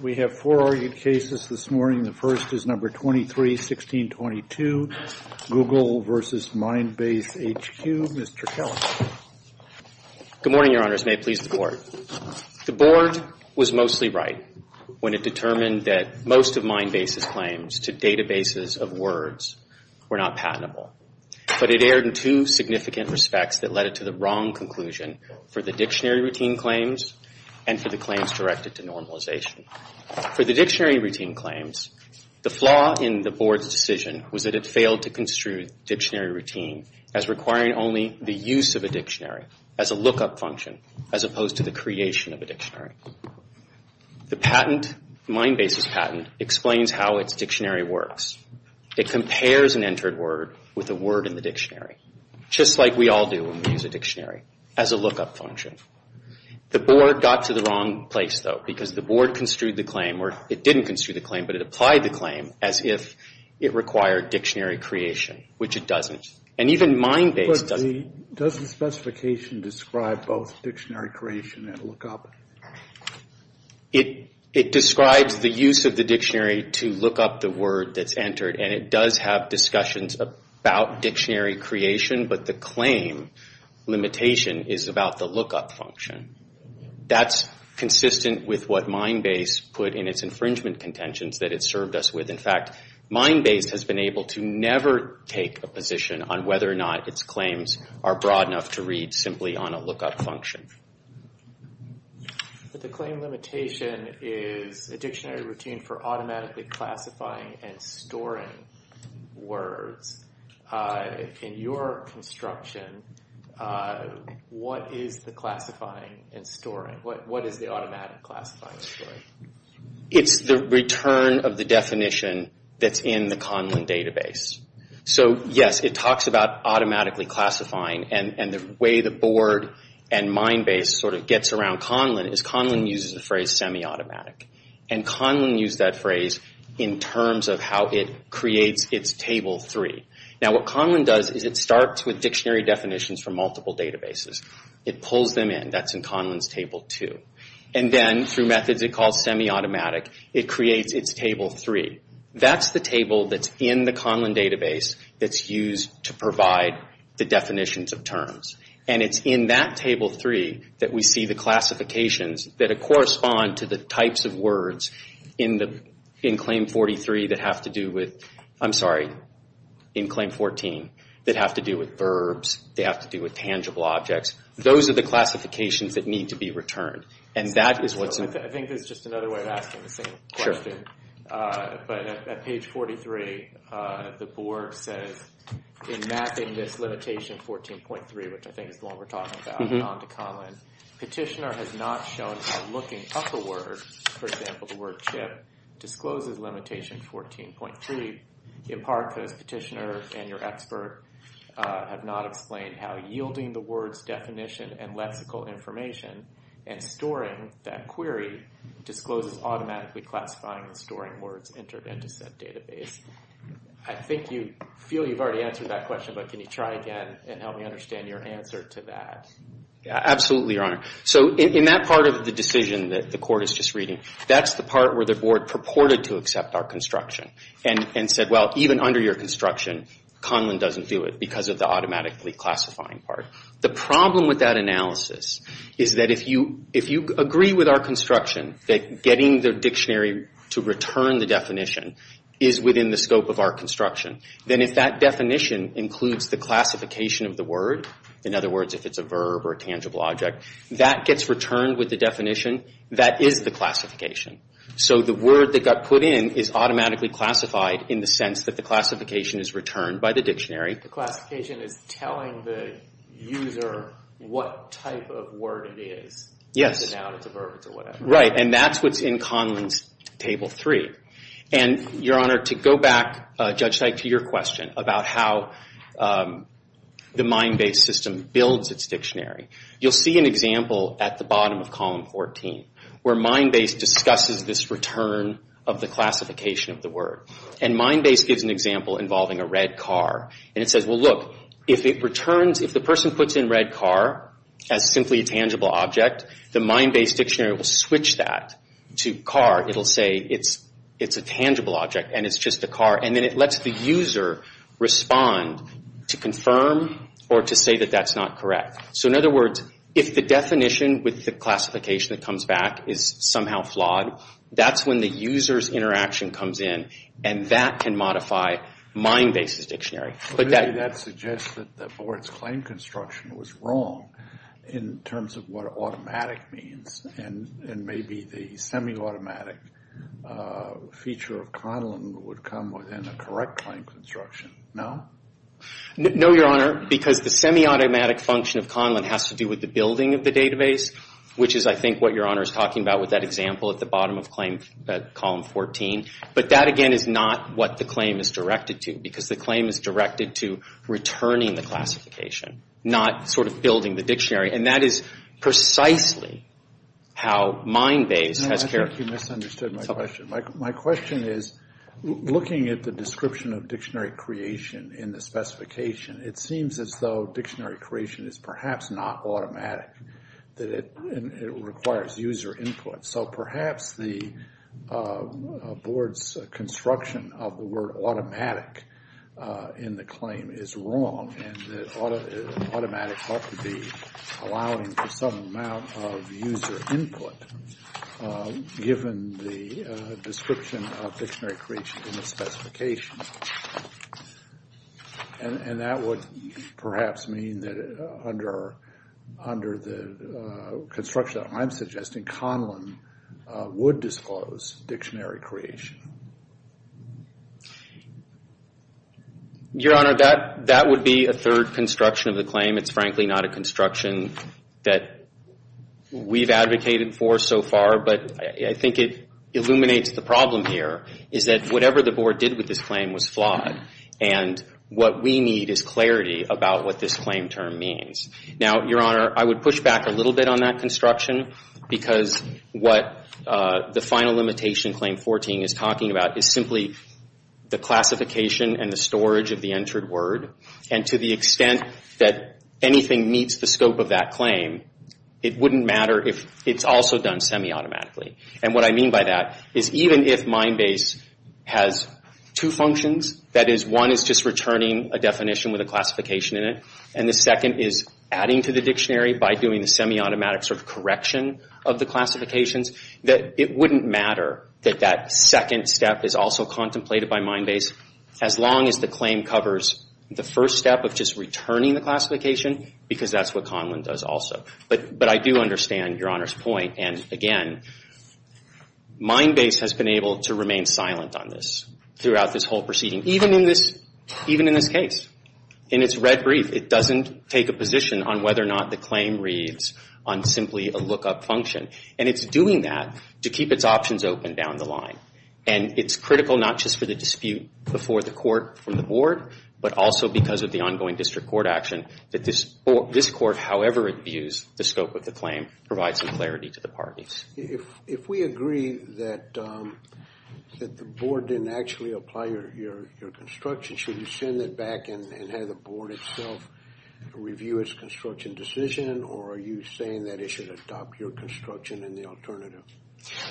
We have four argued cases this morning. The first is number 23-1622, Google v. MindbaseHQ. Mr. Kelley. Good morning, Your Honors. May it please the Board. The Board was mostly right when it determined that most of Mindbase's claims to databases of words were not patentable. But it erred in two significant respects that led it to the wrong conclusion for the dictionary routine claims and for the claims directed to normalization. For the dictionary routine claims, the flaw in the Board's decision was that it failed to construe the dictionary routine as requiring only the use of a dictionary as a lookup function as opposed to the creation of a dictionary. The Mindbase's patent explains how its dictionary works. It compares an entered word with a word in the dictionary, just like we all do when we use a dictionary, as a lookup function. The Board got to the wrong place, though, because the Board construed the claim or it didn't construe the claim, but it applied the claim as if it required dictionary creation, which it doesn't. And even Mindbase doesn't. Does the specification describe both dictionary creation and lookup? It describes the use of the dictionary to look up the word that's entered, and it does have discussions about dictionary creation, but the claim limitation is about the lookup function. That's consistent with what Mindbase put in its infringement contentions that it served us with. In fact, Mindbase has been able to never take a position on whether or not its claims are broad enough to read simply on a lookup function. But the claim limitation is a dictionary routine for automatically classifying and storing words. In your construction, what is the classifying and storing? What is the automatic classifying and storing? It's the return of the definition that's in the Conlin database. So yes, it talks about automatically classifying, and the way the Board and Mindbase sort of gets around Conlin is Conlin uses the phrase semi-automatic. And Conlin used that phrase in terms of how it creates its Table 3. Now what Conlin does is it starts with dictionary definitions from multiple databases. It pulls them in. That's in Conlin's Table 2. And then through methods it calls semi-automatic, it creates its Table 3. That's the table that's in the Conlin database that's used to provide the definitions of terms. And it's in that Table 3 that we see the classifications that correspond to the types of words in Claim 43 that have to do with, I'm sorry, in Claim 14, that have to do with verbs. They have to do with tangible objects. Those are the classifications that need to be returned. I think there's just another way of asking the same question. But at page 43 the Board says in mapping this limitation 14.3, which I think is the one we're talking about, onto Conlin, Petitioner has not shown how looking up a word, for example the word chip, discloses limitation 14.3 in part because Petitioner and your expert have not explained how yielding the word's definition and lexical information and storing that query discloses automatically classifying and storing words entered into said database. I think you feel you've already answered that question, but can you try again and help me understand your answer to that? Absolutely, Your Honor. So in that part of the decision that the Court is just reading, that's the part where the Board purported to accept our construction and said, well, even under your construction Conlin doesn't do it because of the automatically classifying part. The problem with that analysis is that if you agree with our construction that getting the dictionary to return the definition is within the scope of our construction, then if that definition includes the classification of the word, in other words if it's a verb or a tangible object, that gets returned with the definition, that is the classification. So the word that got put in is automatically classified in the sense that the classification is returned by the dictionary. The classification is telling the user what type of word it is. Yes. It's a noun, it's a verb, it's a whatever. Right, and that's what's in Conlin's Table 3. And Your Honor, to go back, Judge Teich, to your question about how the MindBase system builds its dictionary, you'll see an example at the bottom of Column 14 where MindBase discusses this return of the classification of the word. And MindBase gives an example involving a red car. And it says, well look, if the person puts in red car as simply a tangible object, the MindBase dictionary will switch that to car. It'll say it's a tangible object and it's just a car. And then it lets the user respond to confirm or to say that that's not correct. So in other words, if the definition with the classification that comes back is somehow flawed, that's when the user's interaction comes in and that can modify MindBase's dictionary. But that suggests that the board's claim construction was wrong in terms of what automatic means. And maybe the semi-automatic feature of Conlin would come within a correct claim construction. No? No, Your Honor, because the semi-automatic function of Conlin has to do with the building of the database, which is, I think, what Your Honor is talking about with that example at the bottom of Column 14. But that, again, is not what the claim is directed to, because the claim is directed to returning the classification, not sort of building the dictionary. And that is precisely how MindBase has carried it. No, I think you misunderstood my question. My question is, looking at the description of dictionary creation in the specification, it seems as though dictionary creation is perhaps not automatic, that it requires user input. So perhaps the board's construction of the word automatic in the claim is wrong, and automatic ought to be allowing for some amount of user input, given the description of dictionary creation in the specification. And that would perhaps mean that under the construction that I'm suggesting, Conlin would disclose dictionary creation. Your Honor, that would be a third construction of the claim. It's frankly not a construction that we've advocated for so far, but I think it illuminates the problem here, is that whatever the board did with this claim was flawed. And what we need is clarity about what this claim term means. Now, Your Honor, I would push back a little bit on that construction, because what the final limitation, Claim 14, is talking about is simply the classification and the storage of the entered word. And to the extent that anything meets the scope of that claim, it wouldn't matter if it's also done semi-automatically. And what I mean by that is even if MindBase has two functions, that is, one is just returning a definition with a classification in it, and the second is adding to the dictionary by doing a semi-automatic sort of correction of the classifications, that it wouldn't matter that that second step is also contemplated by MindBase, as long as the claim covers the first step of just returning the classification, because that's what Conlin does also. But I do understand Your Honor's point. And again, MindBase has been able to remain silent on this throughout this whole proceeding, even in this case. In its red brief, it doesn't take a position on whether or not the claim reads on simply a lookup function. And it's doing that to keep its options open down the line. And it's critical not just for the dispute before the court from the board, but also because of the ongoing district court action that this court, however it views the scope of the claim, provides some clarity to the parties. If we agree that the board didn't actually apply your construction, should you send it back and have the board itself review its construction decision, or are you saying that it should adopt your construction and the alternative?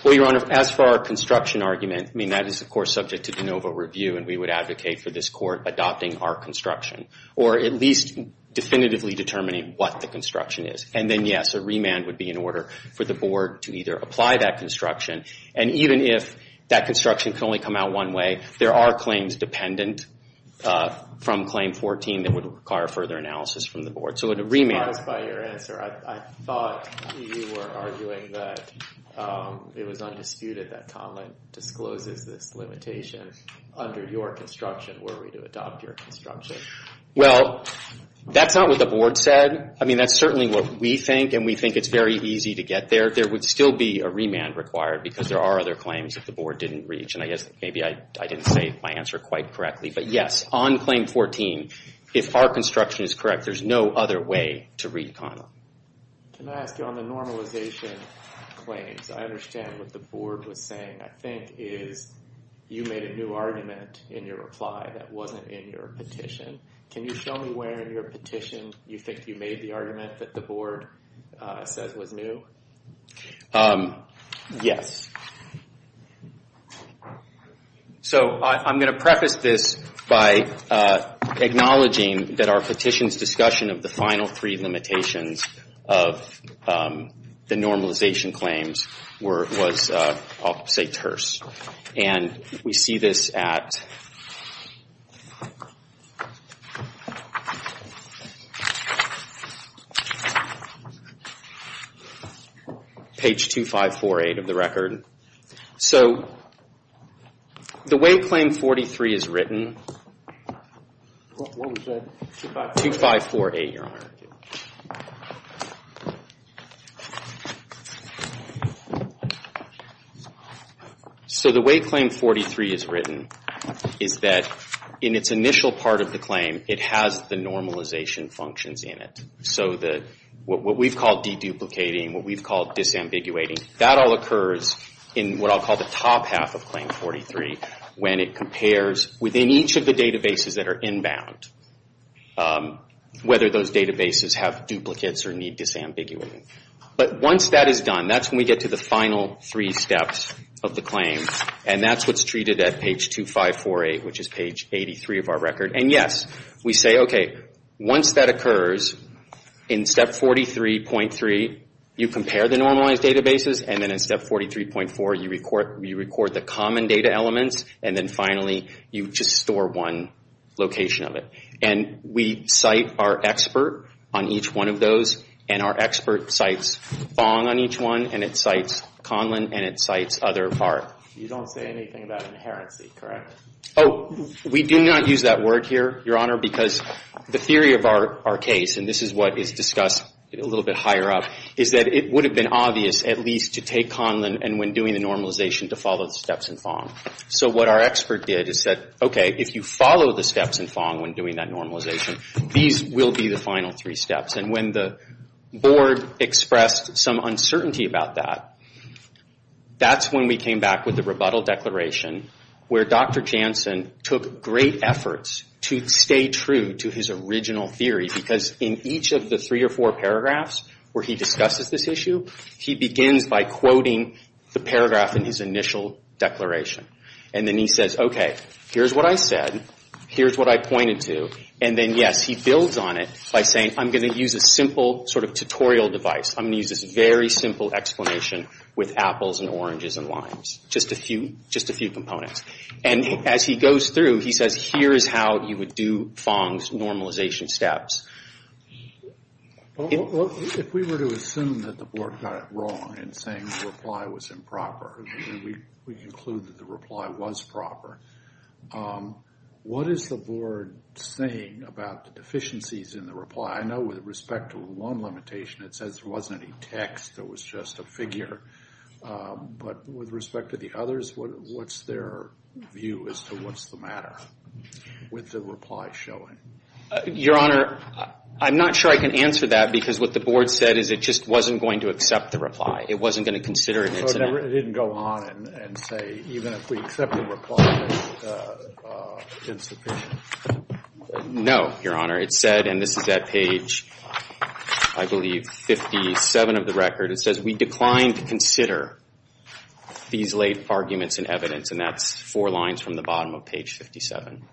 Well, Your Honor, as for our construction argument, I mean that is of course subject to de novo review, and we would advocate for this court adopting our construction, or at least definitively determining what the construction is. And then, yes, a remand would be in order for the board to either apply that construction. And even if that construction can only come out one way, there are claims dependent from Claim 14 that would require further analysis from the board. So a remand. I'm surprised by your answer. I thought you were arguing that it was undisputed that Conlin discloses this limitation under your construction were we to adopt your construction. Well, that's not what the board said. I mean that's certainly what we think, and we think it's very easy to get there. There would still be a remand required, because there are other claims that the board didn't reach. And I guess maybe I didn't say my answer quite correctly. But, yes, on Claim 14, if our construction is correct, there's no other way to read Conlin. Can I ask you on the normalization claims, I understand what the board was saying. I think it is you made a new argument in your reply that wasn't in your petition. Can you show me where in your petition you think you made the argument that the board says was new? Yes. So I'm going to preface this by acknowledging that our petition's discussion of the final three limitations of the normalization claims was, I'll say, terse. And we see this at page 2548 of the record. So the way Claim 43 is written, 2548, Your Honor. So the way Claim 43 is written is that in its initial part of the claim, it has the normalization functions in it. So what we've called deduplicating, what we've called disambiguating, that all occurs in what I'll call the top half of Claim 43, when it compares within each of the databases that are inbound, whether those databases have duplicates or need disambiguating. But once that is done, that's when we get to the final three steps of the claim. And that's what's treated at page 2548, which is page 83 of our record. And yes, we say, okay, once that occurs, in Step 43.3, you compare the normalized databases. And then in Step 43.4, you record the common data elements. And then finally, you just store one location of it. And we cite our expert on each one of those. And our expert cites Fong on each one, and it cites Conlon, and it cites other BART. You don't say anything about inherency, correct? Oh, we do not use that word here, Your Honor, because the theory of our case, and this is what is discussed a little bit higher up, is that it would have been obvious at least to take Conlon, and when doing the normalization, to follow the steps in Fong. So what our expert did is said, okay, if you follow the steps in Fong when doing that normalization, these will be the final three steps. And when the board expressed some uncertainty about that, that's when we came back with the rebuttal declaration, where Dr. Jansen took great efforts to stay true to his original theory, because in each of the three or four paragraphs where he discusses this issue, he begins by quoting the paragraph in his initial declaration. And then he says, okay, here's what I said. Here's what I pointed to. And then, yes, he builds on it by saying, I'm going to use a simple sort of tutorial device. I'm going to use this very simple explanation with apples and oranges and limes, just a few components. And as he goes through, he says, here is how you would do Fong's normalization steps. Well, if we were to assume that the board got it wrong in saying the reply was improper, and we conclude that the reply was proper, what is the board saying about the deficiencies in the reply? I know with respect to one limitation, it says there wasn't any text. It was just a figure. But with respect to the others, what's their view as to what's the matter with the reply showing? Your Honor, I'm not sure I can answer that, because what the board said is it just wasn't going to accept the reply. It wasn't going to consider it. So it didn't go on and say, even if we accept the reply, it's insufficient? No, Your Honor. It said, and this is at page, I believe, 57 of the record. It says, we decline to consider these late arguments and evidence. And that's four lines from the bottom of page 57.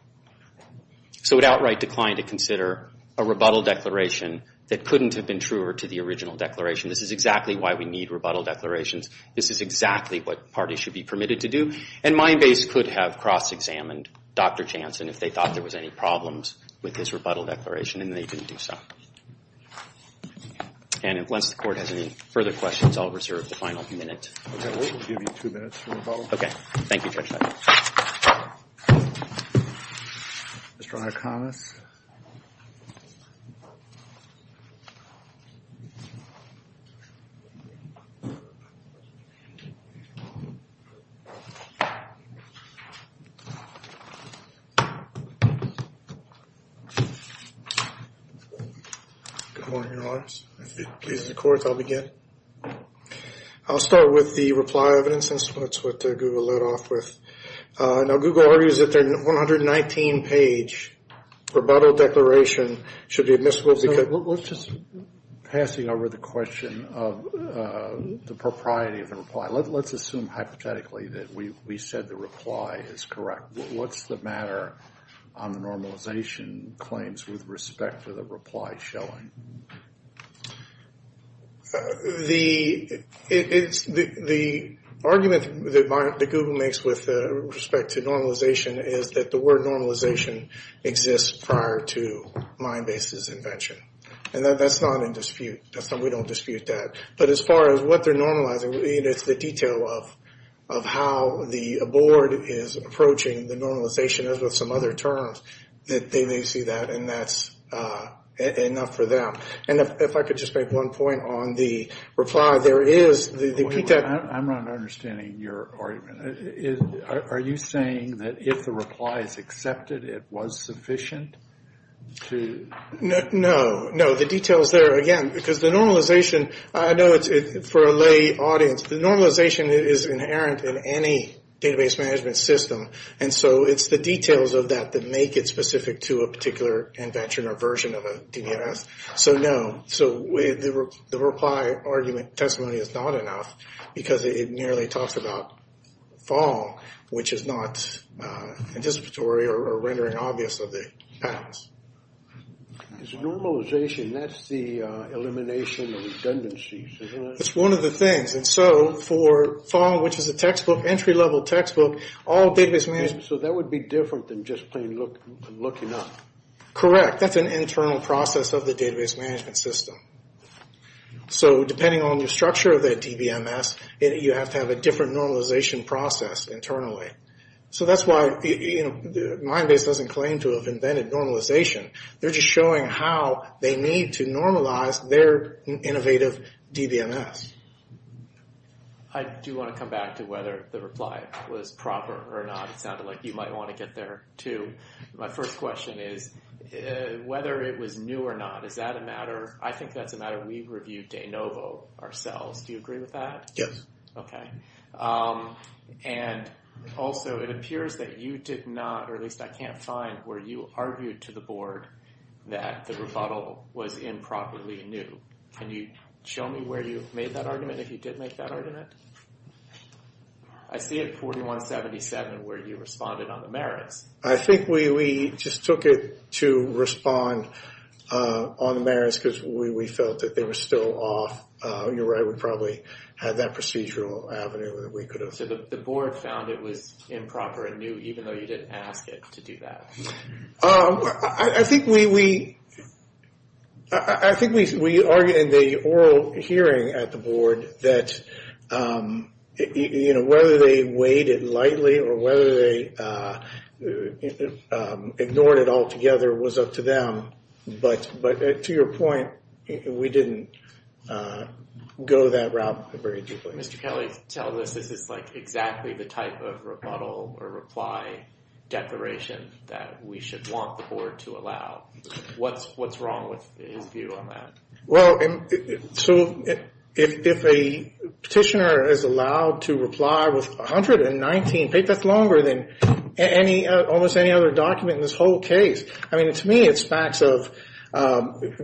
So it outright declined to consider a rebuttal declaration that couldn't have been truer to the original declaration. This is exactly why we need rebuttal declarations. This is exactly what parties should be permitted to do. And my base could have cross-examined Dr. Jansen if they thought there was any problems with this rebuttal declaration, and they didn't do so. And unless the Court has any further questions, I'll reserve the final minute. Okay, we'll give you two minutes for rebuttal. Okay, thank you, Judge. Mr. Honor, comments? Good morning, Your Honors. If it pleases the Court, I'll begin. I'll start with the reply evidence. That's what Google led off with. Now, Google argues that their 119-page rebuttal declaration should be admissible because Let's just, passing over the question of the propriety of the reply, let's assume hypothetically that we said the reply is correct. What's the matter on the normalization claims with respect to the reply showing? The argument that Google makes with respect to normalization is that the word normalization exists prior to my base's invention. And that's not in dispute. We don't dispute that. But as far as what they're normalizing, it's the detail of how the board is approaching the normalization, as with some other terms, that they may see that. And that's enough for them. And if I could just make one point on the reply. I'm not understanding your argument. Are you saying that if the reply is accepted, it was sufficient? No. No, the detail is there, again, because the normalization, I know for a lay audience, the normalization is inherent in any database management system. And so it's the details of that that make it specific to a particular invention or version of a DBMS. So, no. So the reply argument testimony is not enough because it merely talks about fall, which is not anticipatory or rendering obvious of the patterns. Normalization, that's the elimination of redundancies, isn't it? That's one of the things. And so for fall, which is a textbook, entry-level textbook, all database management. So that would be different than just plain looking up. Correct. That's an internal process of the database management system. So depending on the structure of that DBMS, you have to have a different normalization process internally. So that's why Mindbase doesn't claim to have invented normalization. They're just showing how they need to normalize their innovative DBMS. I do want to come back to whether the reply was proper or not. It sounded like you might want to get there, too. My first question is, whether it was new or not, is that a matter? I think that's a matter we've reviewed de novo ourselves. Do you agree with that? Yes. Okay. And also, it appears that you did not, or at least I can't find, where you argued to the board that the rebuttal was improperly new. Can you show me where you made that argument, if you did make that argument? I see it 4177 where you responded on the merits. I think we just took it to respond on the merits because we felt that they were still off. You're right. We probably had that procedural avenue that we could have. So the board found it was improper and knew, even though you didn't ask it to do that. I think we argued in the oral hearing at the board that, you know, whether they weighed it lightly or whether they ignored it altogether was up to them. But to your point, we didn't go that route very deeply. Mr. Kelly, tell us, is this like exactly the type of rebuttal or reply declaration that we should want the board to allow? What's wrong with his view on that? Well, so if a petitioner is allowed to reply with 119 papers, that's longer than almost any other document in this whole case. I mean, to me it's facts of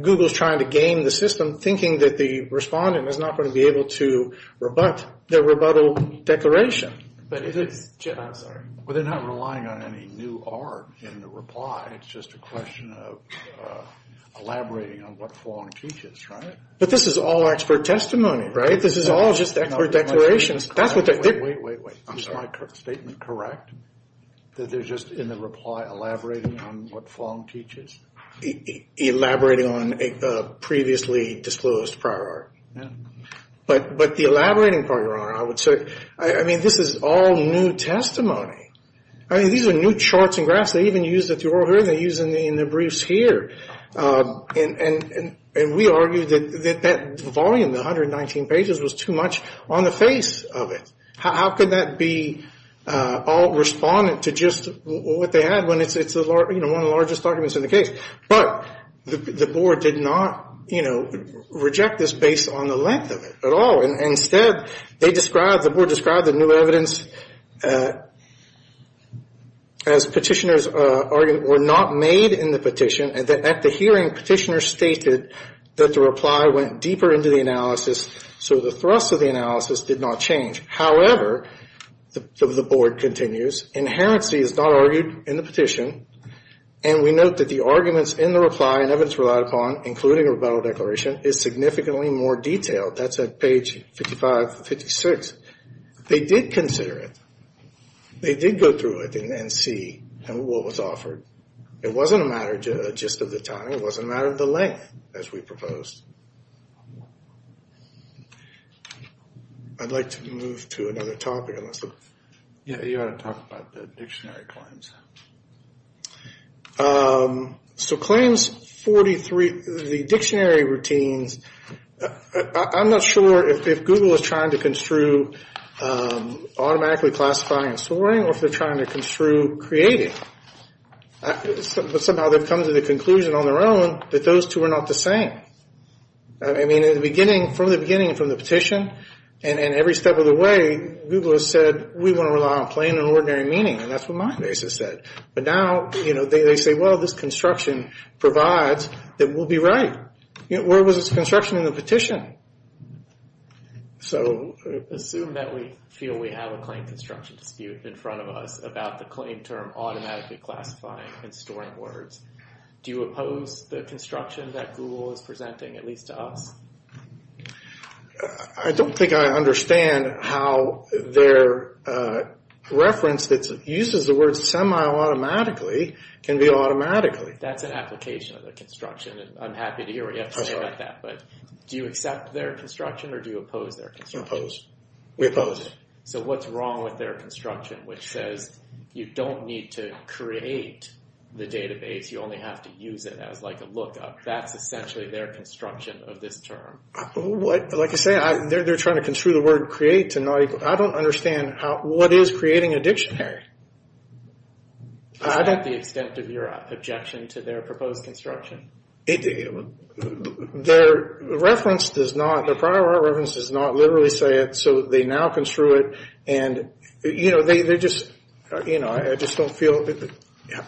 Google's trying to game the system, thinking that the respondent is not going to be able to rebut their rebuttal declaration. But they're not relying on any new art in the reply. It's just a question of elaborating on what Fong teaches, right? But this is all expert testimony, right? This is all just expert declarations. Wait, wait, wait. Is my statement correct? That they're just in the reply elaborating on what Fong teaches? Elaborating on a previously disclosed prior art. But the elaborating part, Your Honor, I would say, I mean, this is all new testimony. I mean, these are new charts and graphs. They even used it at the oral hearing. They used it in the briefs here. And we argued that that volume, the 119 pages, was too much on the face of it. How could that be all respondent to just what they had when it's, you know, one of the largest documents in the case? But the board did not, you know, reject this based on the length of it at all. Instead, they described, the board described the new evidence as petitioners were not made in the petition and that at the hearing, petitioners stated that the reply went deeper into the analysis, so the thrust of the analysis did not change. However, the board continues, inherency is not argued in the petition, and we note that the arguments in the reply and evidence relied upon, including a rebuttal declaration, is significantly more detailed. That's at page 55-56. They did consider it. They did go through it and see what was offered. It wasn't a matter just of the time. It wasn't a matter of the length, as we proposed. I'd like to move to another topic. Yeah, you want to talk about the dictionary claims. So claims 43, the dictionary routines, I'm not sure if Google is trying to construe automatically classifying and storing or if they're trying to construe creating. But somehow they've come to the conclusion on their own that those two are not the same. I mean, in the beginning, from the beginning, from the petition, and every step of the way, Google has said, we want to rely on plain and ordinary meaning, and that's what my basis said. But now, you know, they say, well, this construction provides that we'll be right. Where was this construction in the petition? So assume that we feel we have a claim construction dispute in front of us about the claim term automatically classifying and storing words. Do you oppose the construction that Google is presenting, at least to us? I don't think I understand how their reference that uses the word semi-automatically can be automatically. That's an application of the construction. I'm happy to hear what you have to say about that. But do you accept their construction or do you oppose their construction? We oppose it. So what's wrong with their construction, which says you don't need to create the database. You only have to use it as like a lookup. That's essentially their construction of this term. Like I said, they're trying to construe the word create to not equal. I don't understand what is creating a dictionary. Is that the extent of your objection to their proposed construction? Their reference does not, their prior reference does not literally say it, so they now construe it. And, you know, they're just, you know, I just don't feel,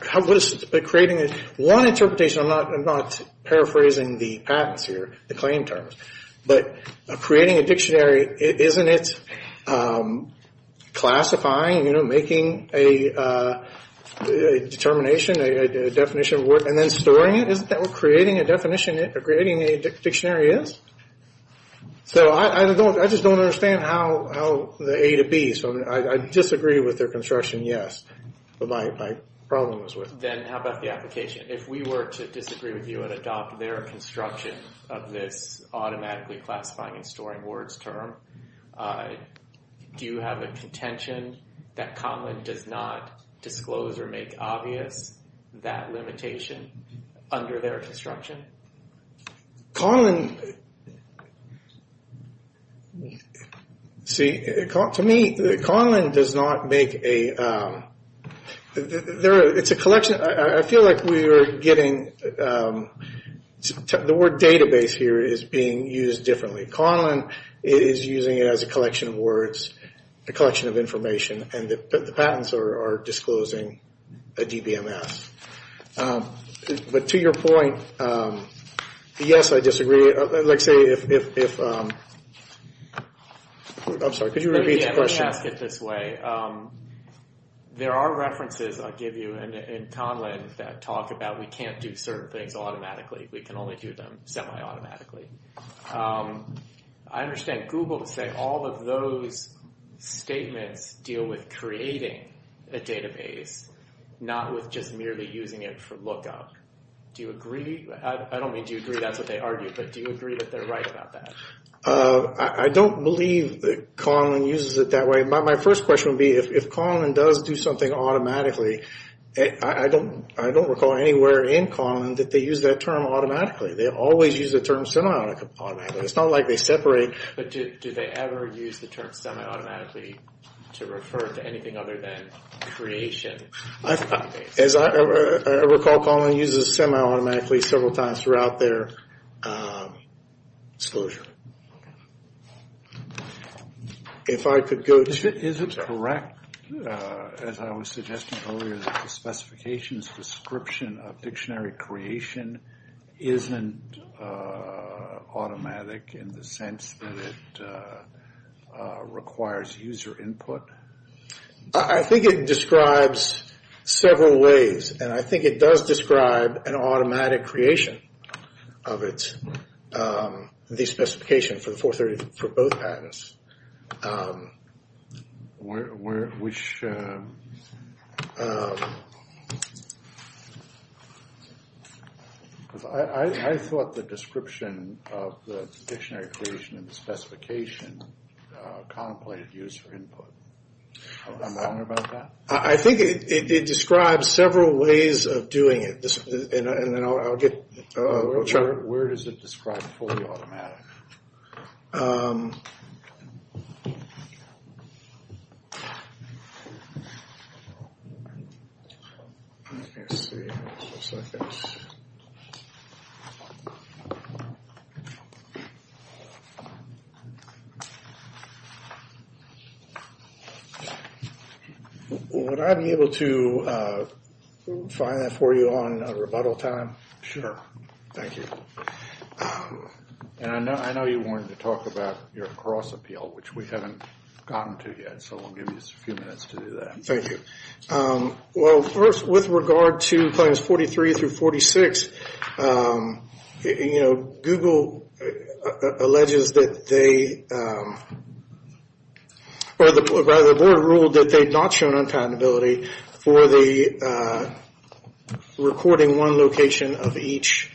how good is it that creating one interpretation, I'm not paraphrasing the patents here, the claim terms. But creating a dictionary, isn't it classifying, you know, making a determination, a definition of word, and then storing it? Isn't that what creating a definition, creating a dictionary is? So I just don't understand how the A to B, so I disagree with their construction, yes. But my problem was with it. Then how about the application? If we were to disagree with you and adopt their construction of this automatically classifying and storing words term, do you have a contention that Cotman does not disclose or make obvious that limitation under their construction? Cotman, see, to me, Cotman does not make a, it's a collection, I feel like we are getting, the word database here is being used differently. Cotman is using it as a collection of words, Cotman is a collection of information, and the patents are disclosing a DBMS. But to your point, yes, I disagree. Let's say if, I'm sorry, could you repeat the question? Let me ask it this way. There are references I'll give you in Conlin that talk about we can't do certain things automatically, we can only do them semi-automatically. I understand Google to say all of those statements deal with creating a database, not with just merely using it for lookup. Do you agree? I don't mean do you agree that's what they argue, but do you agree that they're right about that? I don't believe that Conlin uses it that way. My first question would be if Conlin does do something automatically, I don't recall anywhere in Conlin that they use that term automatically. They always use the term semi-automatically. It's not like they separate. But do they ever use the term semi-automatically to refer to anything other than creation? As I recall, Conlin uses semi-automatically several times throughout their disclosure. If I could go to... Is it correct, as I was suggesting earlier, that the specifications description of dictionary creation isn't automatic in the sense that it requires user input? I think it describes several ways, and I think it does describe an automatic creation of it, the specification for both patents. I thought the description of the dictionary creation and the specification contemplated user input. Am I wrong about that? I think it describes several ways of doing it, and then I'll get real short. Where does it describe fully automatic? Let me see. One second. Would I be able to find that for you on rebuttal time? Sure. Thank you. And I know you wanted to talk about your cross appeal, which we haven't gotten to yet, so we'll give you a few minutes to do that. Thank you. Well, first, with regard to claims 43 through 46, Google alleges that they... Rather, the board ruled that they've not shown unpatentability for the recording one location of each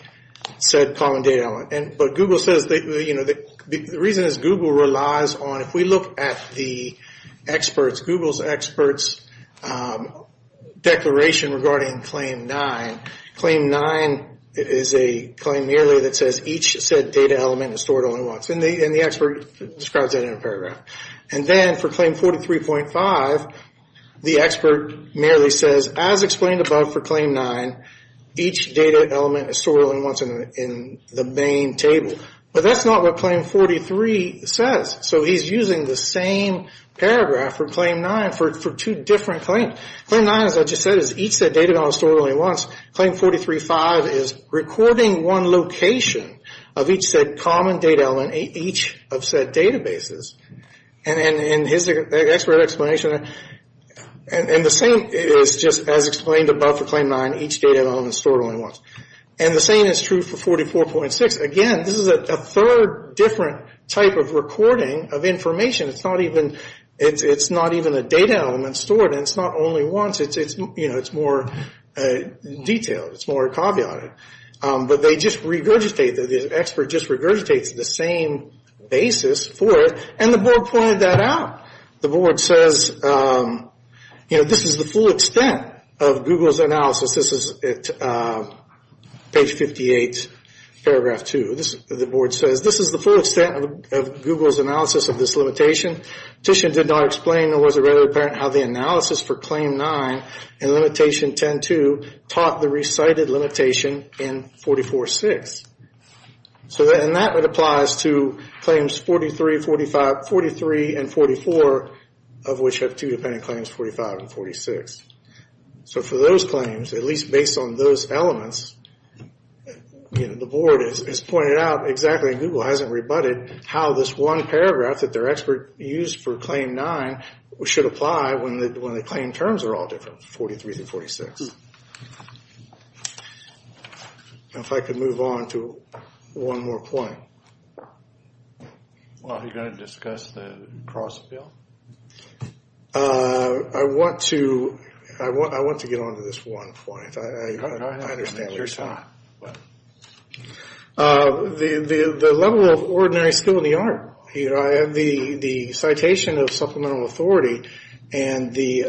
said common data element. But Google says... The reason is Google relies on... When we look at the experts, Google's experts' declaration regarding Claim 9, Claim 9 is a claim merely that says, each said data element is stored only once. And the expert describes that in a paragraph. And then for Claim 43.5, the expert merely says, as explained above for Claim 9, each data element is stored only once in the main table. But that's not what Claim 43 says. So he's using the same paragraph for Claim 9 for two different claims. Claim 9, as I just said, is each said data element is stored only once. Claim 43.5 is recording one location of each said common data element, each of said databases. And here's the expert explanation. And the same is just as explained above for Claim 9, each data element is stored only once. And the same is true for 44.6. Again, this is a third different type of recording of information. It's not even a data element stored, and it's not only once. It's more detailed. It's more caveated. But they just regurgitate, the expert just regurgitates the same basis for it, and the board pointed that out. The board says, this is the full extent of Google's analysis. This is at page 58, paragraph two. The board says, this is the full extent of Google's analysis of this limitation. Titian did not explain, nor was it readily apparent, how the analysis for Claim 9 and Limitation 10.2 taught the recited limitation in 44.6. And that applies to Claims 43, 45, 43 and 44, of which have two dependent claims, 45 and 46. So for those claims, at least based on those elements, the board has pointed out, exactly, and Google hasn't rebutted, how this one paragraph that their expert used for Claim 9 should apply when the claim terms are all different, 43 through 46. If I could move on to one more point. Well, are you going to discuss the cross bill? I want to get on to this one point. I understand what you're saying. The level of ordinary skill in the art. The citation of supplemental authority and the,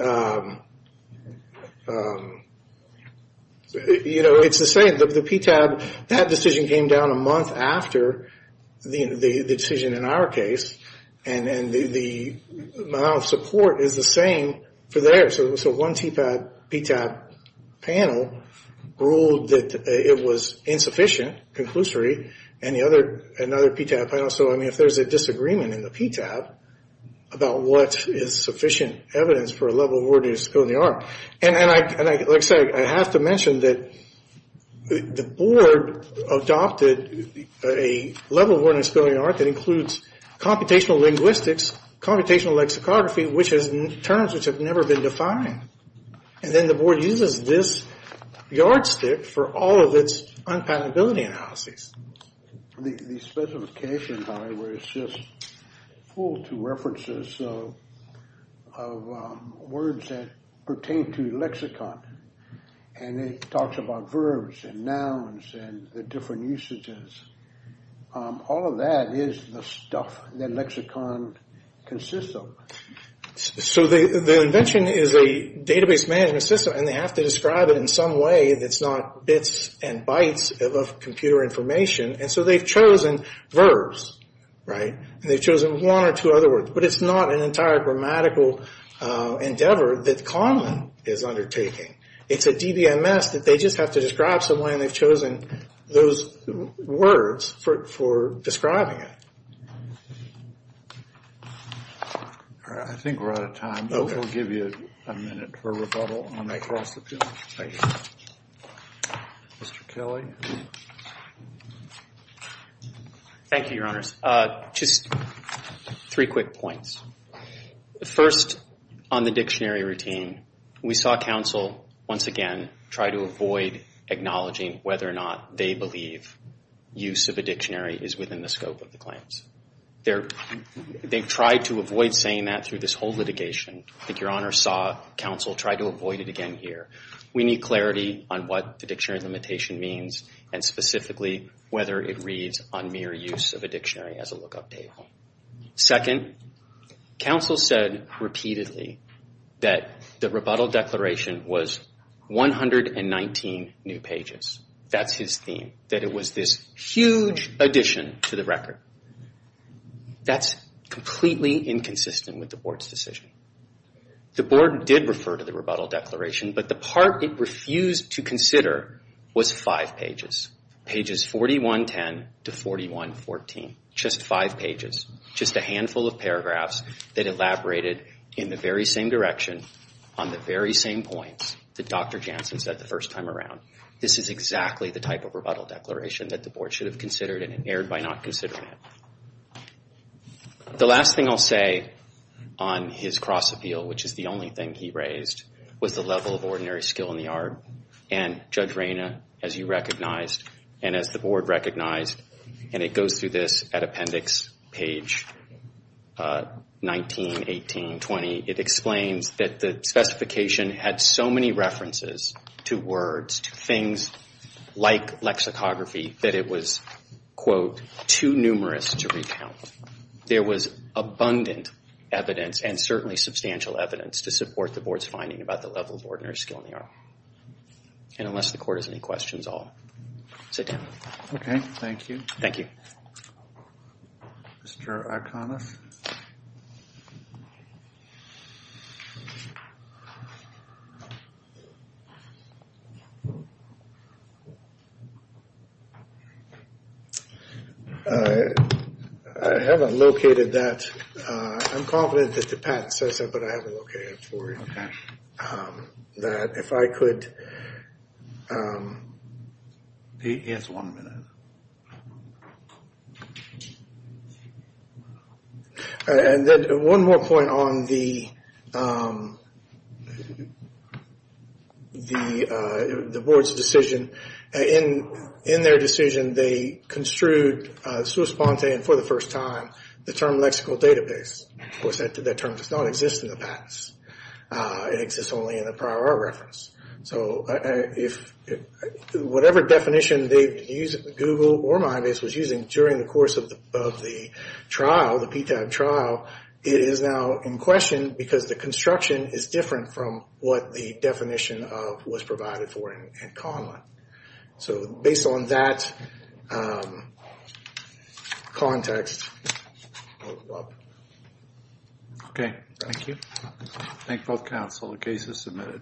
it's the same. The PTAB, that decision came down a month after the decision in our case. And the amount of support is the same for there. So one PTAB panel ruled that it was insufficient, conclusory, and the other, another PTAB panel. So, I mean, if there's a disagreement in the PTAB about what is sufficient evidence for a level of ordinary skill in the art. And like I said, I have to mention that the board adopted a level of ordinary skill in the art that includes computational linguistics, computational lexicography, which is terms which have never been defined. And then the board uses this yardstick for all of its unpatentability analyses. The specification, by the way, is just full to references of words that pertain to lexicon. And it talks about verbs and nouns and the different usages. All of that is the stuff that lexicon consists of. So the invention is a database management system and they have to describe it in some way that's not bits and bytes of computer information. And so they've chosen verbs, right? And they've chosen one or two other words. But it's not an entire grammatical endeavor that Conlon is undertaking. It's a DBMS that they just have to describe some way and they've chosen those words for describing it. All right, I think we're out of time. We'll give you a minute for rebuttal. I'm going to cross the panel. Thank you. Mr. Kelly. Thank you, Your Honors. Just three quick points. First, on the dictionary routine, we saw counsel once again try to avoid acknowledging whether or not they believe use of a dictionary is within the scope of the claims. They've tried to avoid saying that through this whole litigation. I think Your Honors saw counsel try to avoid it again here. We need clarity on what the dictionary limitation means and specifically whether it reads on mere use of a dictionary as a lookup table. Second, counsel said repeatedly that the rebuttal declaration was 119 new pages. That's his theme, that it was this huge addition to the record. That's completely inconsistent with the Board's decision. The Board did refer to the rebuttal declaration, but the part it refused to consider was five pages, pages 4110 to 4114, just five pages, just a handful of paragraphs that elaborated in the very same direction, on the very same points that Dr. Jansen said the first time around. This is exactly the type of rebuttal declaration that the Board should have considered and erred by not considering it. The last thing I'll say on his cross-appeal, which is the only thing he raised, was the level of ordinary skill in the art. And Judge Reyna, as you recognized, and as the Board recognized, and it goes through this at appendix page 19, 18, 20, it explains that the specification had so many references to words, to things like lexicography, that it was, quote, too numerous to recount. There was abundant evidence and certainly substantial evidence to support the Board's finding about the level of ordinary skill in the art. And unless the Court has any questions, I'll sit down. Okay, thank you. Thank you. Mr. Iconis? I haven't located that. I'm confident that the patent says that, but I haven't located it for you. Okay. That if I could... Yes, one minute. And then one more point on the... the Board's decision. In their decision, they construed, sui sponte and for the first time, the term lexical database. Of course, that term does not exist in the patents. It exists only in the prior art reference. So if... whatever definition they use, Google or MyBase, was using during the course of the trial, the PTAB trial, it is now in question because the construction is different from what the definition of was provided for in Conlon. So based on that... context... Okay, thank you. Thank both counsel. The case is submitted.